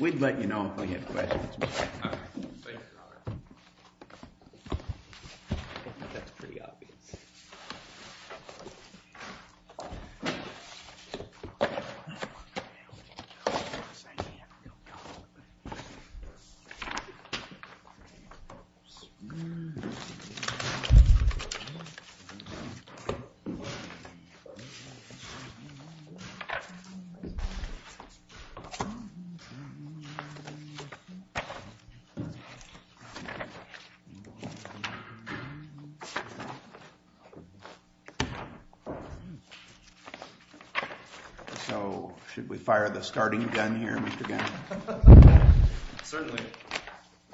We'd let you know if we had questions. We'd be happy to answer any questions. So, should we fire the starting gun here, Mr. Gannon? Certainly.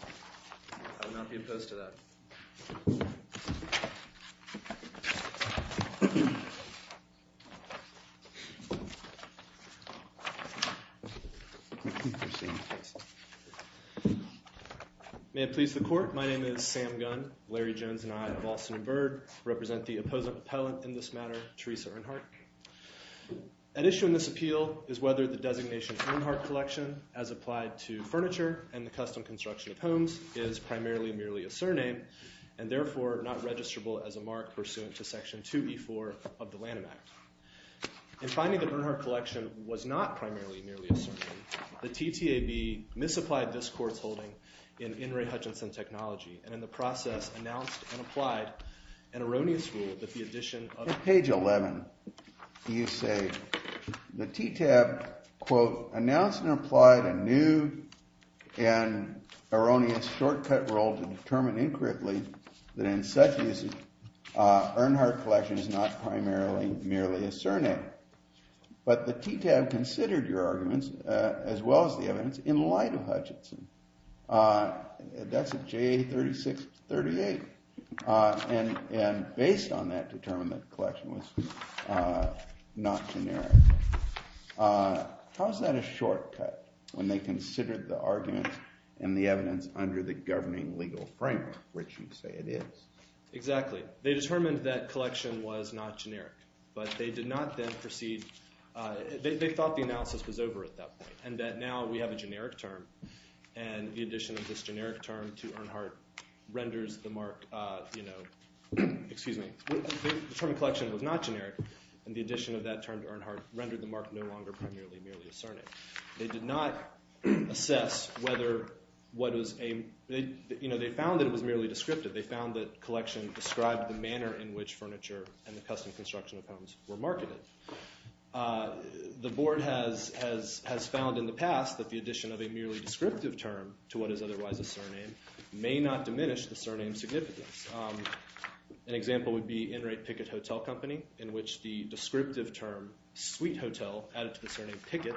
I would not be opposed to that. May it please the court, my name is Sam Gunn. Larry Jones and I of Alston & Byrd represent the opposing appellant in this matter, Teresa Earnhardt. At issue in this appeal is whether the designation Earnhardt Collection, as applied to furniture and the custom construction of homes, is primarily merely a surname, and therefore not registrable as a mark pursuant to Section 2b.4 of the Lanham Act. In finding that Earnhardt Collection was not primarily merely a surname, the TTAB misapplied this court's holding in In re Hutchinson Technology, and in the process announced and applied an erroneous rule that the addition of— But the TTAB considered your arguments, as well as the evidence, in light of Hutchinson. That's at JA 3638. And based on that, determined that the collection was not generic. How is that a shortcut, when they considered the arguments and the evidence under the governing legal framework, which you say it is? Exactly. They determined that collection was not generic, but they did not then proceed—they thought the analysis was over at that point, and that now we have a generic term, and the addition of this generic term to Earnhardt renders the mark— Excuse me. The term collection was not generic, and the addition of that term to Earnhardt rendered the mark no longer primarily merely a surname. They did not assess whether what was—they found that it was merely descriptive. They found that collection described the manner in which furniture and the custom construction of homes were marketed. The board has found in the past that the addition of a merely descriptive term to what is otherwise a surname may not diminish the surname's significance. An example would be Enright Pickett Hotel Company, in which the descriptive term suite hotel added to the surname Pickett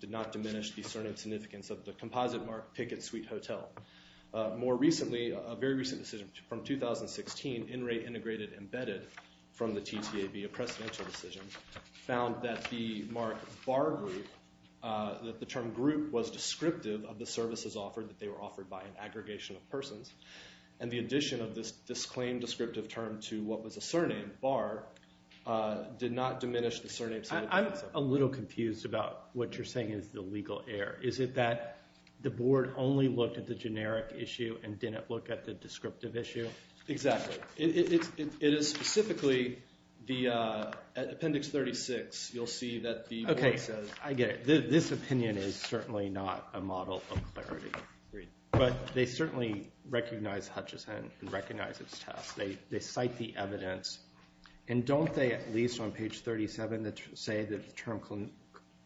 did not diminish the surname's significance of the composite mark, Pickett Suite Hotel. More recently, a very recent decision from 2016, Enright Integrated Embedded from the TTAB, a precedential decision, found that the mark bar group, that the term group was descriptive of the services offered, that they were offered by an aggregation of persons. And the addition of this disclaimed descriptive term to what was a surname bar did not diminish the surname's significance. I'm a little confused about what you're saying is the legal error. Is it that the board only looked at the generic issue and didn't look at the descriptive issue? Exactly. It is specifically the—at Appendix 36, you'll see that the board says— They recognize Hutchison and recognize its test. They cite the evidence. And don't they, at least on page 37, say that the term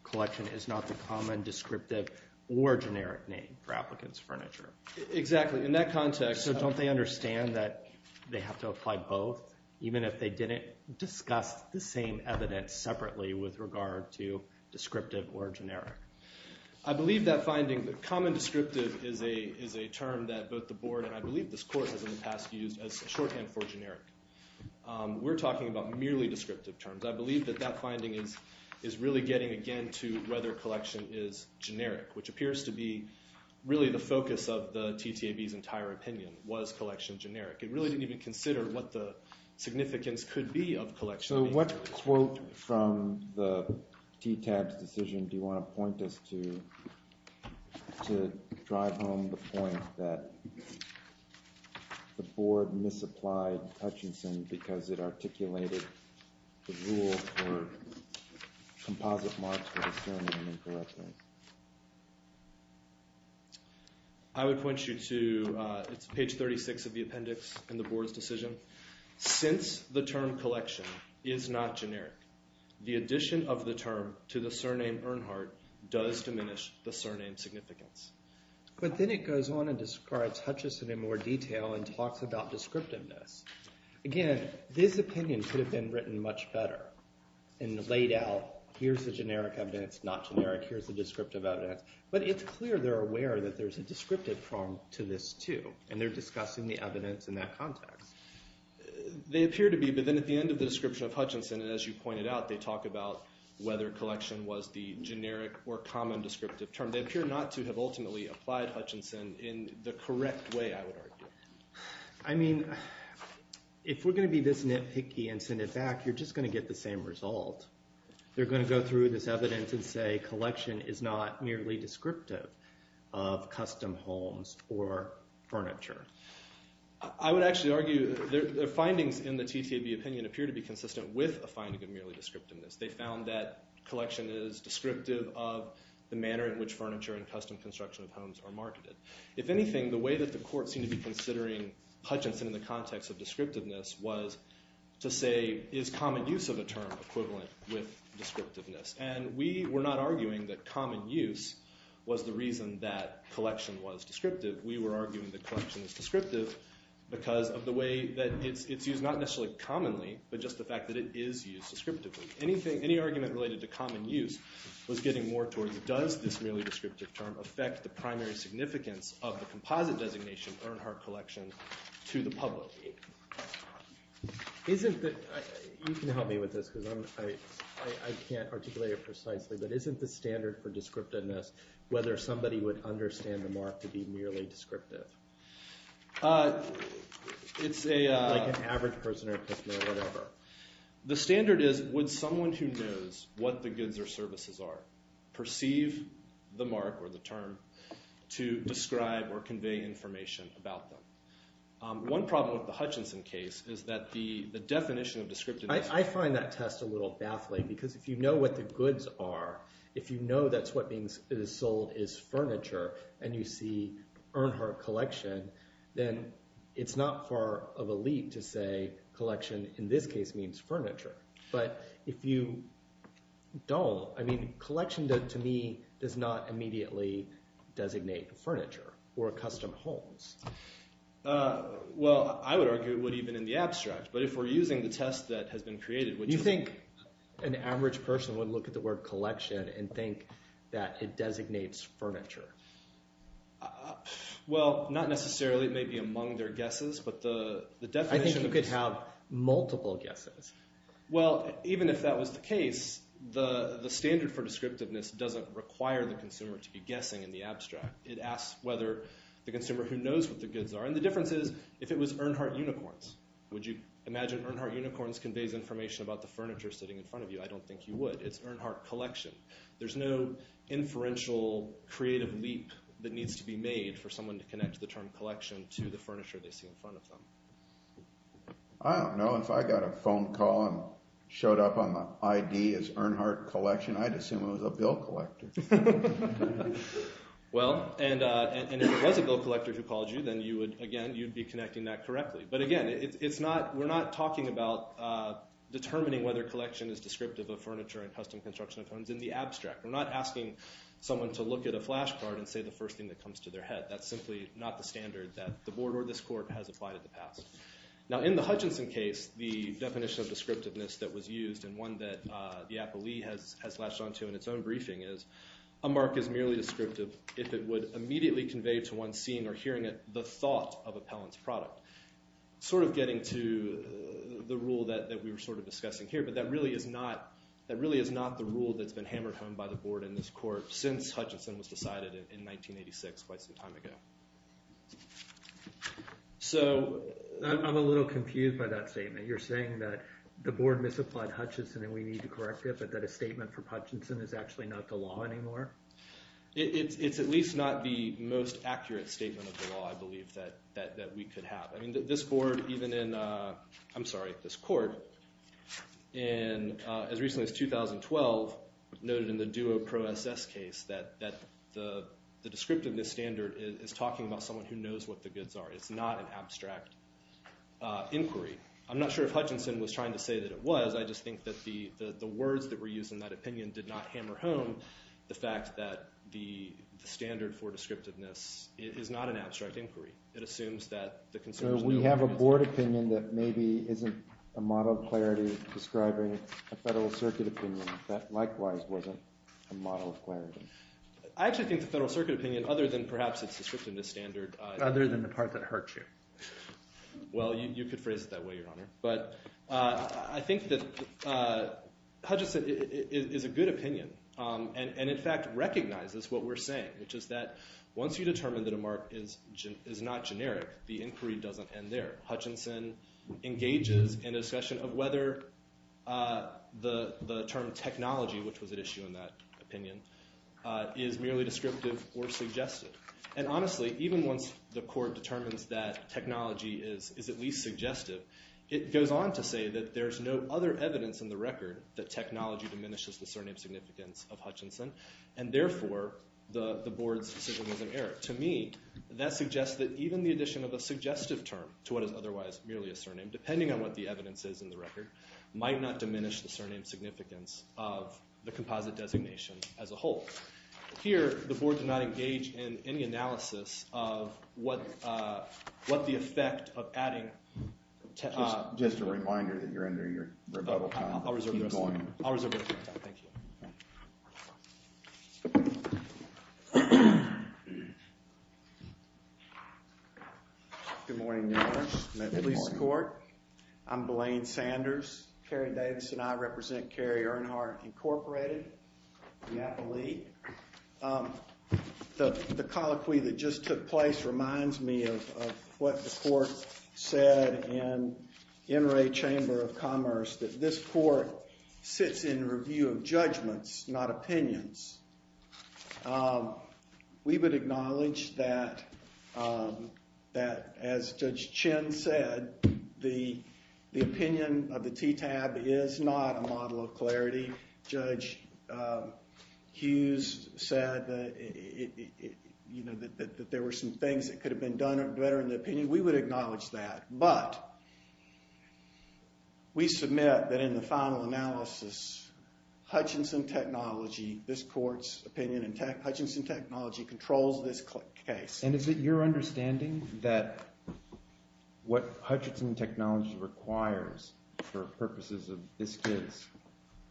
collection is not the common, descriptive, or generic name for applicants' furniture? Exactly. In that context— So don't they understand that they have to apply both, even if they didn't discuss the same evidence separately with regard to descriptive or generic? I believe that finding—common descriptive is a term that both the board and I believe this court has in the past used as a shorthand for generic. We're talking about merely descriptive terms. I believe that that finding is really getting again to whether collection is generic, which appears to be really the focus of the TTAB's entire opinion was collection generic. It really didn't even consider what the significance could be of collection being generic. So what quote from the TTAB's decision do you want to point us to to drive home the point that the board misapplied Hutchison because it articulated the rule for composite marks for the surname incorrectly? I would point you to—it's page 36 of the appendix in the board's decision. Since the term collection is not generic, the addition of the term to the surname Earnhardt does diminish the surname significance. But then it goes on and describes Hutchison in more detail and talks about descriptiveness. Again, this opinion could have been written much better and laid out. Here's the generic evidence, not generic. Here's the descriptive evidence. But it's clear they're aware that there's a descriptive form to this too, and they're discussing the evidence in that context. They appear to be, but then at the end of the description of Hutchison, as you pointed out, they talk about whether collection was the generic or common descriptive term. They appear not to have ultimately applied Hutchison in the correct way, I would argue. I mean, if we're going to be this nitpicky and send it back, you're just going to get the same result. They're going to go through this evidence and say collection is not merely descriptive of custom homes or furniture. I would actually argue their findings in the TTAB opinion appear to be consistent with a finding of merely descriptiveness. They found that collection is descriptive of the manner in which furniture and custom construction of homes are marketed. If anything, the way that the court seemed to be considering Hutchison in the context of descriptiveness was to say, is common use of a term equivalent with descriptiveness? And we were not arguing that common use was the reason that collection was descriptive. We were arguing that collection is descriptive because of the way that it's used, not necessarily commonly, but just the fact that it is used descriptively. Any argument related to common use was getting more towards, does this merely descriptive term affect the primary significance of the composite designation Earnhardt Collection to the public? You can help me with this because I can't articulate it precisely, but isn't the standard for descriptiveness whether somebody would understand the mark to be merely descriptive? It's like an average person or customer or whatever. The standard is, would someone who knows what the goods or services are perceive the mark or the term to describe or convey information about them? One problem with the Hutchison case is that the definition of descriptiveness- I find that test a little baffling because if you know what the goods are, if you know that's what is sold is furniture and you see Earnhardt Collection, then it's not far of a leap to say collection in this case means furniture. But if you don't, I mean collection to me does not immediately designate furniture or custom homes. Well, I would argue it would even in the abstract, but if we're using the test that has been created- You think an average person would look at the word collection and think that it designates furniture? Well, not necessarily. It may be among their guesses, but the definition- Well, even if that was the case, the standard for descriptiveness doesn't require the consumer to be guessing in the abstract. It asks whether the consumer who knows what the goods are, and the difference is if it was Earnhardt Unicorns. Would you imagine Earnhardt Unicorns conveys information about the furniture sitting in front of you? I don't think you would. It's Earnhardt Collection. There's no inferential creative leap that needs to be made for someone to connect the term collection to the furniture they see in front of them. I don't know. If I got a phone call and showed up on the ID as Earnhardt Collection, I'd assume it was a bill collector. Well, and if it was a bill collector who called you, then again, you'd be connecting that correctly. But again, we're not talking about determining whether collection is descriptive of furniture and custom construction of homes in the abstract. We're not asking someone to look at a flash card and say the first thing that comes to their head. That's simply not the standard that the board or this court has applied in the past. Now, in the Hutchinson case, the definition of descriptiveness that was used and one that the appellee has latched onto in its own briefing is, a mark is merely descriptive if it would immediately convey to one seeing or hearing it the thought of appellant's product. Sort of getting to the rule that we were sort of discussing here, but that really is not the rule that's been hammered home by the board and this court since Hutchinson was decided in 1986, quite some time ago. So I'm a little confused by that statement. You're saying that the board misapplied Hutchinson and we need to correct it, but that a statement for Hutchinson is actually not the law anymore? It's at least not the most accurate statement of the law, I believe, that we could have. I'm sorry, this court, as recently as 2012, noted in the Duo Pro SS case that the descriptiveness standard is talking about someone who knows what the goods are. It's not an abstract inquiry. I'm not sure if Hutchinson was trying to say that it was. I just think that the words that were used in that opinion did not hammer home the fact that the standard for descriptiveness is not an abstract inquiry. So we have a board opinion that maybe isn't a model of clarity describing a Federal Circuit opinion that likewise wasn't a model of clarity. I actually think the Federal Circuit opinion, other than perhaps its descriptiveness standard… Other than the part that hurts you. Well, you could phrase it that way, Your Honor. But I think that Hutchinson is a good opinion and, in fact, recognizes what we're saying, which is that once you determine that a mark is not generic, the inquiry doesn't end there. Hutchinson engages in a discussion of whether the term technology, which was at issue in that opinion, is merely descriptive or suggestive. And honestly, even once the court determines that technology is at least suggestive, it goes on to say that there's no other evidence in the record that technology diminishes the surname significance of Hutchinson. And therefore, the board's decision was an error. To me, that suggests that even the addition of a suggestive term to what is otherwise merely a surname, depending on what the evidence is in the record, might not diminish the surname significance of the composite designation as a whole. Here, the board did not engage in any analysis of what the effect of adding… Just a reminder that you're under your rebuttal time. I'll reserve the rest of my time. Thank you. Good morning, Your Honor. Good morning. I'm Blaine Sanders. Kerry Davis and I represent Kerry Earnhardt, Incorporated, Napa League. The colloquy that just took place reminds me of what the court said in NRA Chamber of Commerce, that this court sits in review of judgments, not opinions. We would acknowledge that, as Judge Chin said, the opinion of the TTAB is not a model of clarity. Judge Hughes said that there were some things that could have been done better in the opinion. We would acknowledge that, but we submit that in the final analysis, Hutchinson Technology, this court's opinion in Hutchinson Technology, controls this case. And is it your understanding that what Hutchinson Technology requires for purposes of this case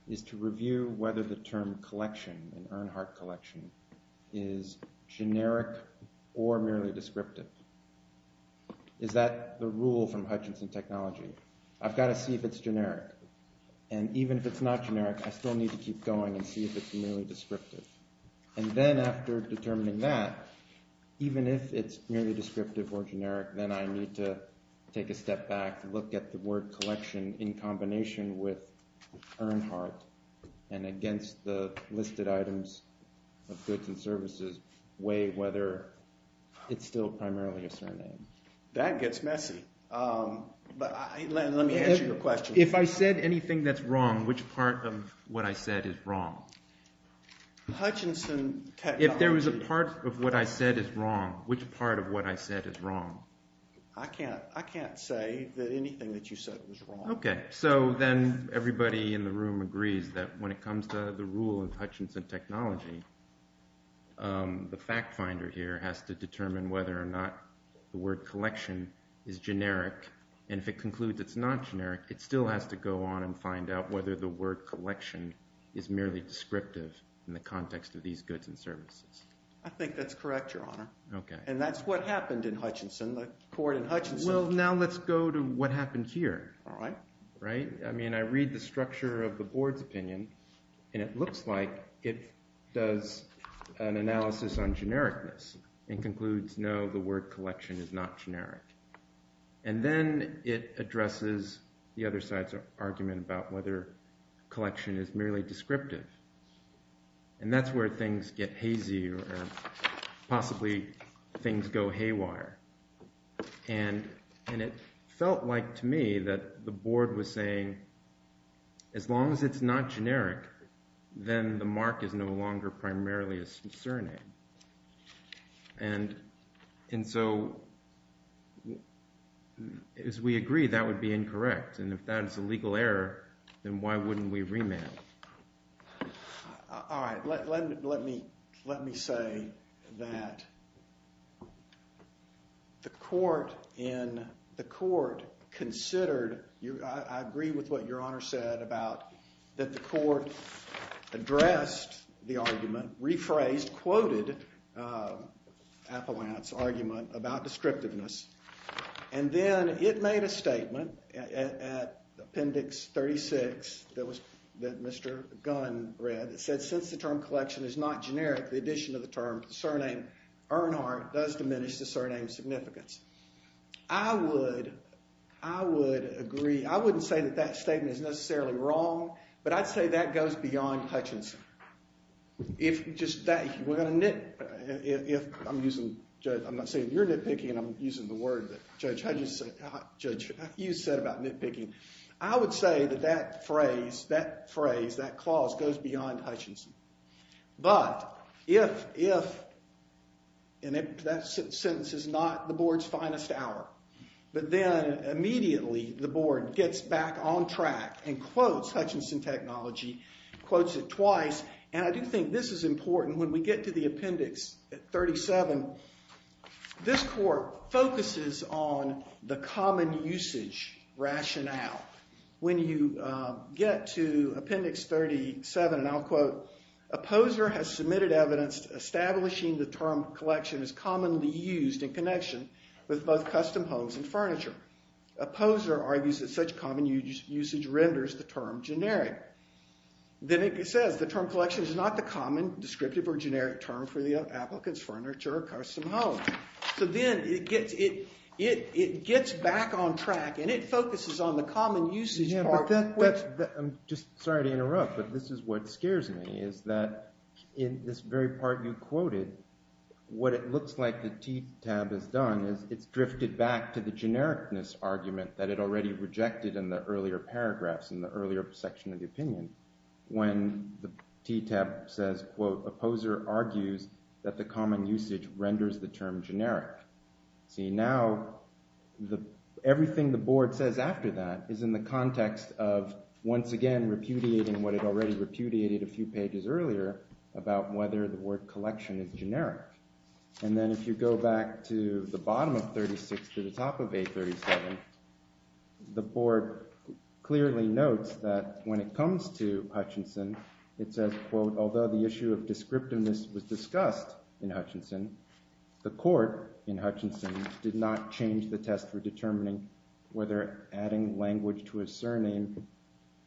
is to review whether the term collection, an Earnhardt collection, is generic or merely descriptive? Is that the rule from Hutchinson Technology? I've got to see if it's generic, and even if it's not generic, I still need to keep going and see if it's merely descriptive. And then after determining that, even if it's merely descriptive or generic, then I need to take a step back, look at the word collection in combination with Earnhardt, and against the listed items of goods and services, weigh whether it's still primarily a surname. That gets messy. But let me answer your question. If I said anything that's wrong, which part of what I said is wrong? Hutchinson Technology. If there was a part of what I said is wrong, which part of what I said is wrong? I can't say that anything that you said was wrong. Okay, so then everybody in the room agrees that when it comes to the rule of Hutchinson Technology, the fact finder here has to determine whether or not the word collection is generic. And if it concludes it's not generic, it still has to go on and find out whether the word collection is merely descriptive in the context of these goods and services. I think that's correct, Your Honor. Okay. And that's what happened in Hutchinson, the court in Hutchinson. Well, now let's go to what happened here. All right. Right? I mean, I read the structure of the board's opinion, and it looks like it does an analysis on genericness and concludes, no, the word collection is not generic. And then it addresses the other side's argument about whether collection is merely descriptive. And that's where things get hazy or possibly things go haywire. And it felt like to me that the board was saying as long as it's not generic, then the mark is no longer primarily a surname. And so as we agree, that would be incorrect. And if that's a legal error, then why wouldn't we remand? All right. Let me say that the court considered – I agree with what Your Honor said about that the court addressed the argument, rephrased, quoted Appellant's argument about descriptiveness. And then it made a statement at Appendix 36 that Mr. Gunn read that said since the term collection is not generic, the addition of the term surname Earnhardt does diminish the surname's significance. I would agree. I wouldn't say that that statement is necessarily wrong, but I'd say that goes beyond Hutchinson. If just that – we're going to – if I'm using – I'm not saying you're nitpicking. I'm using the word that judge – judge, you said about nitpicking. I would say that that phrase, that clause goes beyond Hutchinson. But if – and that sentence is not the board's finest hour. But then immediately the board gets back on track and quotes Hutchinson technology, quotes it twice. And I do think this is important. When we get to the Appendix 37, this court focuses on the common usage rationale. When you get to Appendix 37, and I'll quote, Opposer has submitted evidence establishing the term collection is commonly used in connection with both custom homes and furniture. Opposer argues that such common usage renders the term generic. Then it says the term collection is not the common descriptive or generic term for the applicant's furniture or custom home. So then it gets – it gets back on track, and it focuses on the common usage part. Yeah, but that's – I'm just sorry to interrupt, but this is what scares me is that in this very part you quoted, what it looks like the T tab has done is it's drifted back to the genericness argument that it already rejected in the earlier paragraphs, in the earlier section of the opinion. When the T tab says, quote, Opposer argues that the common usage renders the term generic. See, now the – everything the board says after that is in the context of once again repudiating what it already repudiated a few pages earlier about whether the word collection is generic. And then if you go back to the bottom of 36 to the top of A37, the board clearly notes that when it comes to Hutchinson, it says, quote, Although the issue of descriptiveness was discussed in Hutchinson, the court in Hutchinson did not change the test for determining whether adding language to a surname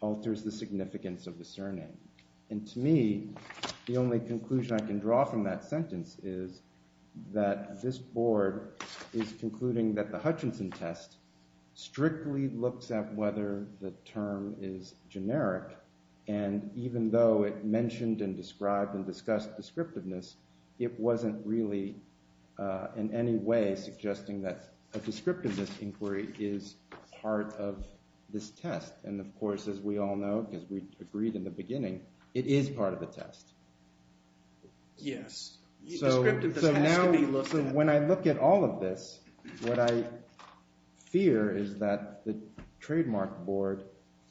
alters the significance of the surname. And to me, the only conclusion I can draw from that sentence is that this board is concluding that the Hutchinson test strictly looks at whether the term is generic, and even though it mentioned and described and discussed descriptiveness, it wasn't really in any way suggesting that a descriptiveness inquiry is part of this test. And of course, as we all know, because we agreed in the beginning, it is part of the test. Yes. Descriptiveness has to be looked at. So now – so when I look at all of this, what I fear is that the trademark board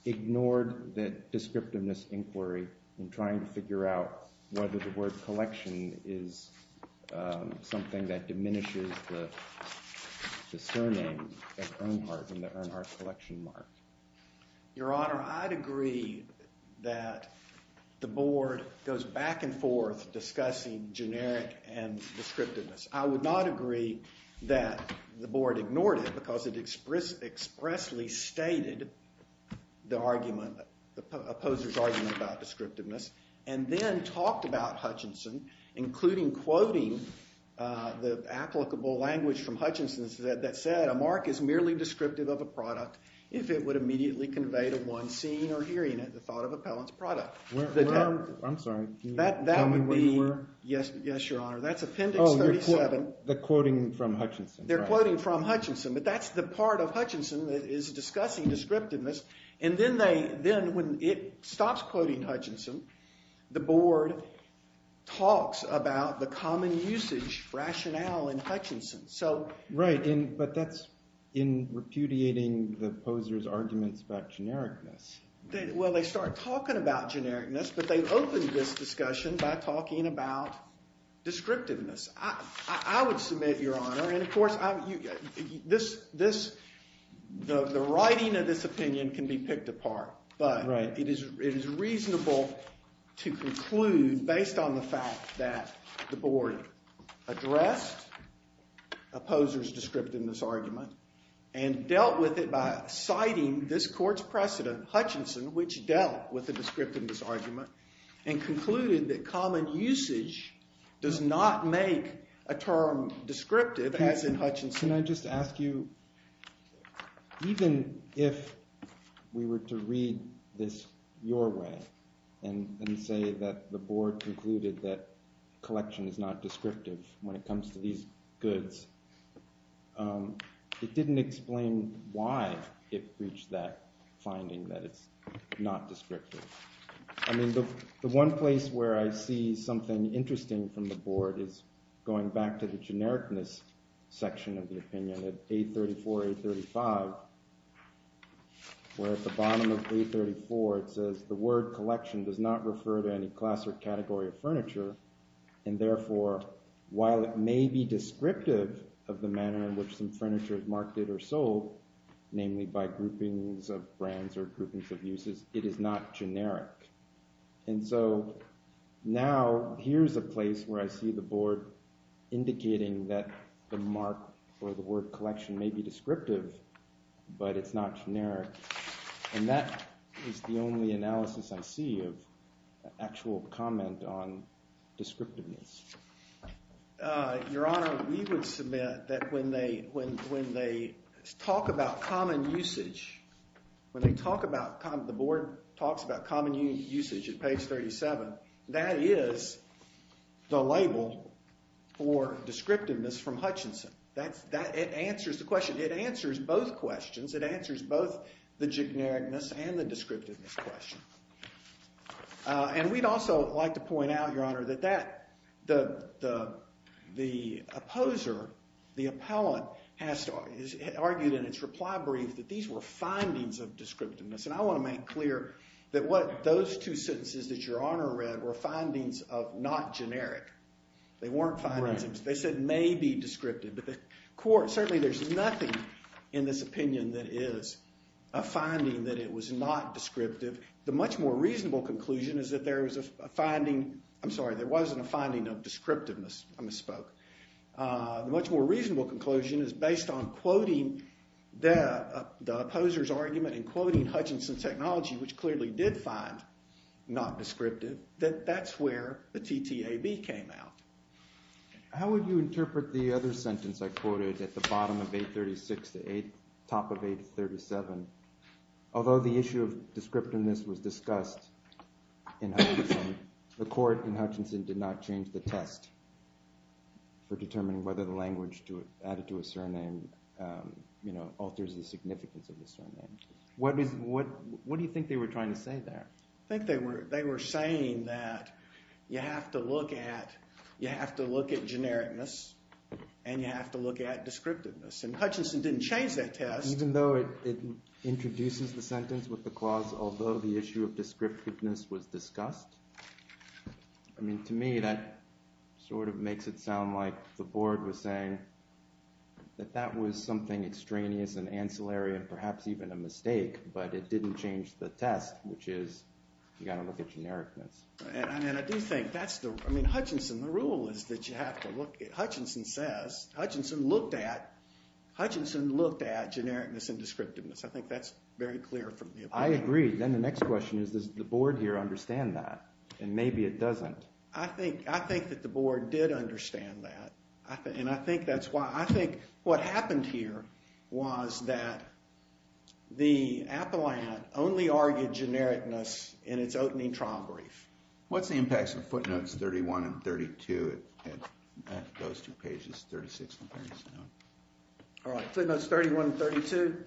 ignored the descriptiveness inquiry in trying to figure out whether the word collection is something that diminishes the surname as an earned part and the earned art collection mark. Your Honor, I'd agree that the board goes back and forth discussing generic and descriptiveness. I would not agree that the board ignored it because it expressly stated the argument – the opposer's argument about descriptiveness and then talked about Hutchinson, including quoting the applicable language from Hutchinson that said, A mark is merely descriptive of a product if it would immediately convey to one seeing or hearing it the thought of appellant's product. I'm sorry. Can you tell me where you were? Yes, Your Honor. That's Appendix 37. Oh, the quoting from Hutchinson. They're quoting from Hutchinson, but that's the part of Hutchinson that is discussing descriptiveness. And then they – then when it stops quoting Hutchinson, the board talks about the common usage rationale in Hutchinson. Right, but that's in repudiating the opposer's arguments about genericness. Well, they start talking about genericness, but they open this discussion by talking about descriptiveness. I would submit, Your Honor – and, of course, this – the writing of this opinion can be picked apart. But it is reasonable to conclude, based on the fact that the board addressed opposer's descriptiveness argument and dealt with it by citing this court's precedent, Hutchinson, which dealt with the descriptiveness argument, and concluded that common usage does not make a term descriptive, as in Hutchinson. Can I just ask you, even if we were to read this your way and say that the board concluded that collection is not descriptive when it comes to these goods, it didn't explain why it reached that finding that it's not descriptive. I mean, the one place where I see something interesting from the board is going back to the genericness section of the opinion of 834, 835, where at the bottom of 834 it says the word collection does not refer to any class or category of furniture, and therefore, while it may be descriptive of the manner in which some furniture is marketed or sold, namely by groupings of brands or groupings of uses, it is not generic. And so now here's a place where I see the board indicating that the mark or the word collection may be descriptive, but it's not generic. And that is the only analysis I see of actual comment on descriptiveness. Your Honor, we would submit that when they talk about common usage, when they talk about – the board talks about common usage at page 37, that is the label for descriptiveness from Hutchinson. It answers the question. It answers both questions. It answers both the genericness and the descriptiveness question. And we'd also like to point out, Your Honor, that the opposer, the appellant, has argued in its reply brief that these were findings of descriptiveness. And I want to make clear that what those two sentences that Your Honor read were findings of not generic. They weren't findings. They said may be descriptive. But the court – certainly there's nothing in this opinion that is a finding that it was not descriptive. The much more reasonable conclusion is that there was a finding – I'm sorry, there wasn't a finding of descriptiveness. I misspoke. How would you interpret the other sentence I quoted at the bottom of page 36, the top of page 37? Although the issue of descriptiveness was discussed in Hutchinson, the court in Hutchinson did not change the test for determining whether the language added to a surname alters the significance of the surname. What do you think they were trying to say there? I think they were saying that you have to look at genericness and you have to look at descriptiveness. And Hutchinson didn't change that test. Even though it introduces the sentence with the clause, although the issue of descriptiveness was discussed? I mean to me that sort of makes it sound like the board was saying that that was something extraneous and ancillary and perhaps even a mistake. But it didn't change the test, which is you've got to look at genericness. And I do think that's the – I mean Hutchinson, the rule is that you have to look – Hutchinson says – Hutchinson looked at genericness and descriptiveness. I think that's very clear from the opinion. I agree. Then the next question is does the board here understand that? And maybe it doesn't. I think that the board did understand that. And I think that's why – I think what happened here was that the appellant only argued genericness in its opening trial brief. What's the impacts of footnotes 31 and 32 at those two pages, 36 and 37? All right, footnotes 31 and 32.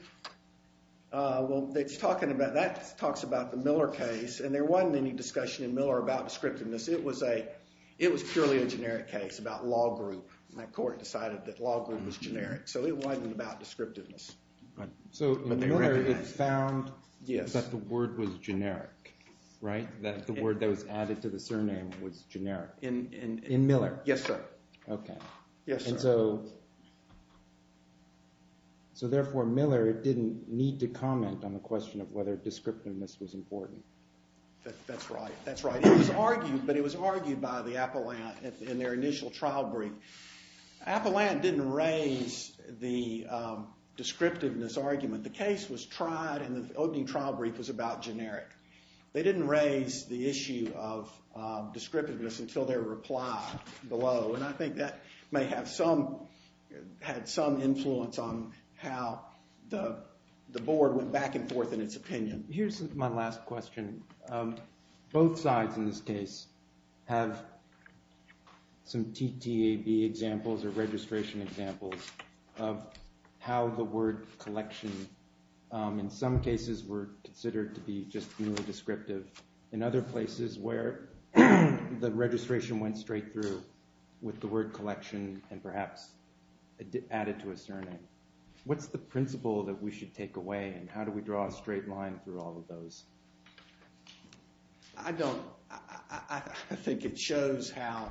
Well, it's talking about – that talks about the Miller case, and there wasn't any discussion in Miller about descriptiveness. It was a – it was purely a generic case about law group, and that court decided that law group was generic. So it wasn't about descriptiveness. So in Miller it found that the word was generic, right? That the word that was added to the surname was generic in Miller? Yes, sir. Okay. Yes, sir. And so therefore Miller didn't need to comment on the question of whether descriptiveness was important. That's right. That's right. It was argued, but it was argued by the appellant in their initial trial brief. Appellant didn't raise the descriptiveness argument. The case was tried, and the opening trial brief was about generic. They didn't raise the issue of descriptiveness until their reply below, and I think that may have some – had some influence on how the board went back and forth in its opinion. Here's my last question. Both sides in this case have some TTAB examples or registration examples of how the word collection in some cases were considered to be just merely descriptive. In other places where the registration went straight through with the word collection and perhaps added to a surname. What's the principle that we should take away, and how do we draw a straight line through all of those? I don't – I think it shows how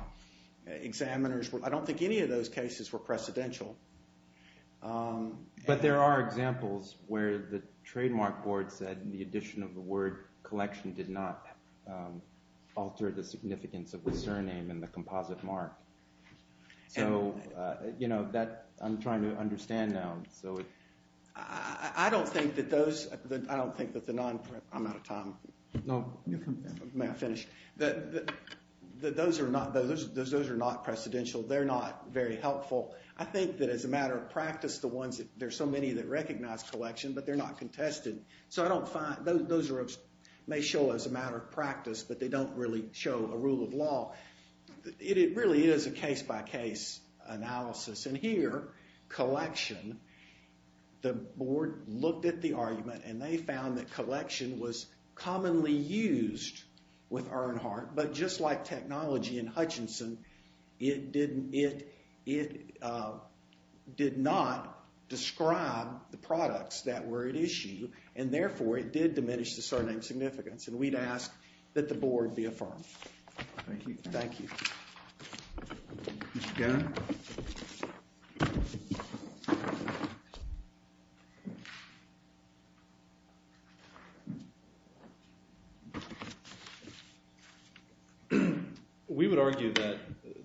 examiners – I don't think any of those cases were precedential. But there are examples where the trademark board said the addition of the word collection did not alter the significance of the surname and the composite mark. So, you know, that – I'm trying to understand now. I don't think that those – I don't think that the non – I'm out of time. No, you can finish. May I finish? That those are not – those are not precedential. They're not very helpful. I think that as a matter of practice, the ones that – there are so many that recognize collection, but they're not contested. So I don't find – those are – may show as a matter of practice, but they don't really show a rule of law. It really is a case-by-case analysis. And here, collection, the board looked at the argument, and they found that collection was commonly used with Earnhardt. But just like technology in Hutchinson, it didn't – it did not describe the products that were at issue, and therefore it did diminish the surname significance. And we'd ask that the board be affirmed. Thank you. Thank you. Mr. Gannon? We would argue that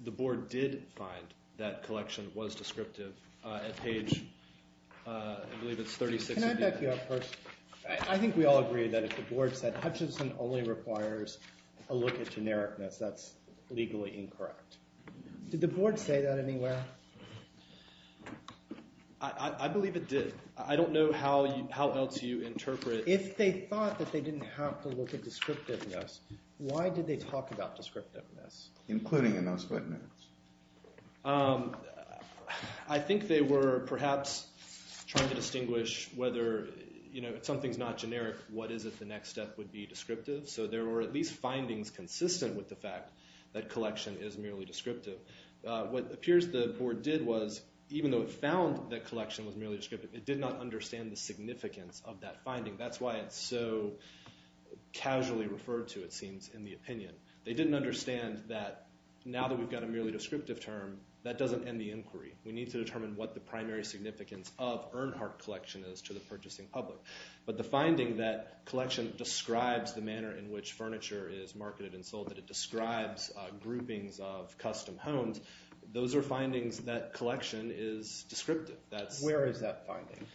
the board did find that collection was descriptive at page – I believe it's 36. Can I back you up first? I think we all agree that if the board said Hutchinson only requires a look at genericness, that's legally incorrect. Did the board say that anywhere? I believe it did. I don't know how else you interpret – If they thought that they didn't have to look at descriptiveness, why did they talk about descriptiveness? Including in those footnotes. I think they were perhaps trying to distinguish whether – you know, if something's not generic, what is it the next step would be descriptive? So there were at least findings consistent with the fact that collection is merely descriptive. What appears the board did was, even though it found that collection was merely descriptive, it did not understand the significance of that finding. That's why it's so casually referred to, it seems, in the opinion. They didn't understand that now that we've got a merely descriptive term, that doesn't end the inquiry. We need to determine what the primary significance of Earnhardt collection is to the purchasing public. But the finding that collection describes the manner in which furniture is marketed and sold, that it describes groupings of custom homes, those are findings that collection is descriptive. Where is that finding?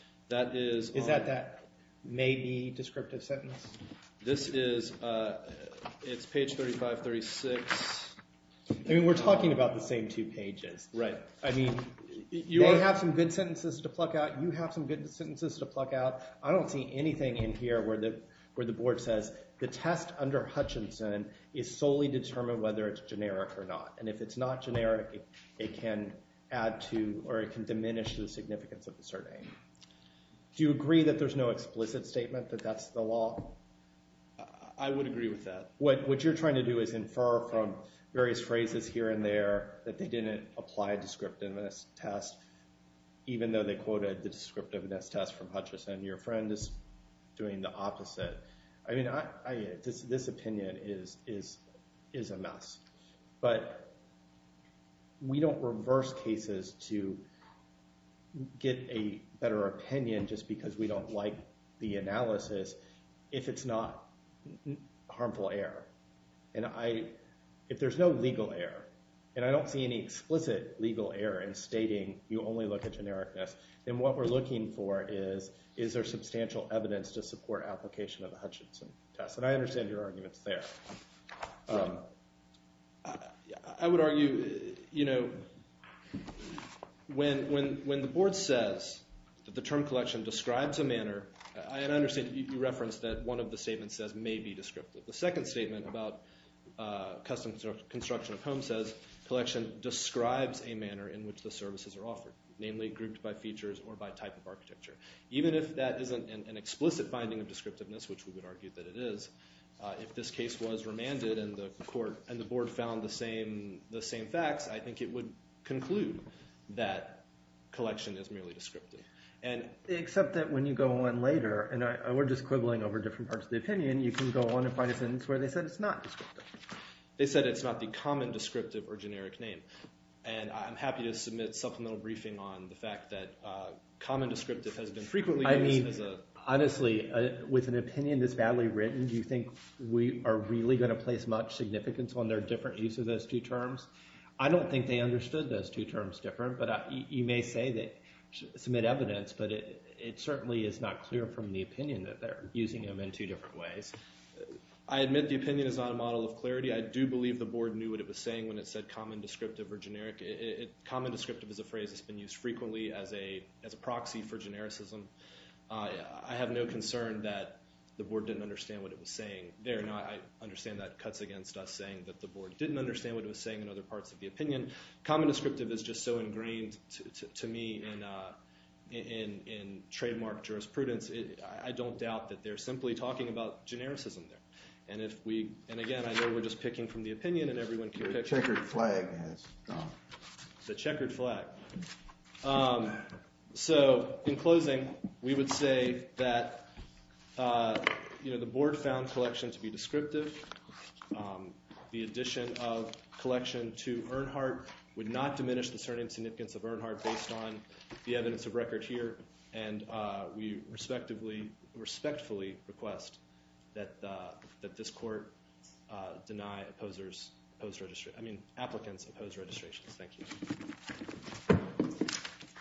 Is that that maybe descriptive sentence? This is – it's page 3536. I mean we're talking about the same two pages. Right. I mean they have some good sentences to pluck out, you have some good sentences to pluck out. I don't see anything in here where the board says the test under Hutchinson is solely determined whether it's generic or not. And if it's not generic, it can add to or it can diminish the significance of the survey. Do you agree that there's no explicit statement that that's the law? I would agree with that. What you're trying to do is infer from various phrases here and there that they didn't apply descriptiveness test, even though they quoted the descriptiveness test from Hutchinson. Your friend is doing the opposite. I mean this opinion is a mess. But we don't reverse cases to get a better opinion just because we don't like the analysis if it's not harmful error. And if there's no legal error, and I don't see any explicit legal error in stating you only look at genericness, then what we're looking for is is there substantial evidence to support application of the Hutchinson test? And I understand your arguments there. I would argue, you know, when the board says that the term collection describes a manner, and I understand you referenced that one of the statements says may be descriptive. The second statement about custom construction of homes says collection describes a manner in which the services are offered, namely grouped by features or by type of architecture. Even if that isn't an explicit finding of descriptiveness, which we would argue that it is, if this case was remanded and the court and the board found the same facts, I think it would conclude that collection is merely descriptive. Except that when you go on later, and we're just quibbling over different parts of the opinion, you can go on and find a sentence where they said it's not descriptive. They said it's not the common descriptive or generic name. And I'm happy to submit supplemental briefing on the fact that common descriptive has been frequently used as a- I mean, honestly, with an opinion that's badly written, do you think we are really going to place much significance on their different use of those two terms? I don't think they understood those two terms different, but you may say they submit evidence, but it certainly is not clear from the opinion that they're using them in two different ways. I admit the opinion is not a model of clarity. I do believe the board knew what it was saying when it said common descriptive or generic. Common descriptive is a phrase that's been used frequently as a proxy for genericism. I have no concern that the board didn't understand what it was saying there. I understand that cuts against us saying that the board didn't understand what it was saying in other parts of the opinion. Common descriptive is just so ingrained to me in trademark jurisprudence. I don't doubt that they're simply talking about genericism there. And again, I know we're just picking from the opinion and everyone can pick. The checkered flag has gone. The checkered flag. So in closing, we would say that the board found collection to be descriptive. The addition of collection to Earnhardt would not diminish the significance of Earnhardt based on the evidence of record here, and we respectfully request that this court deny applicants opposed registrations. Thank you.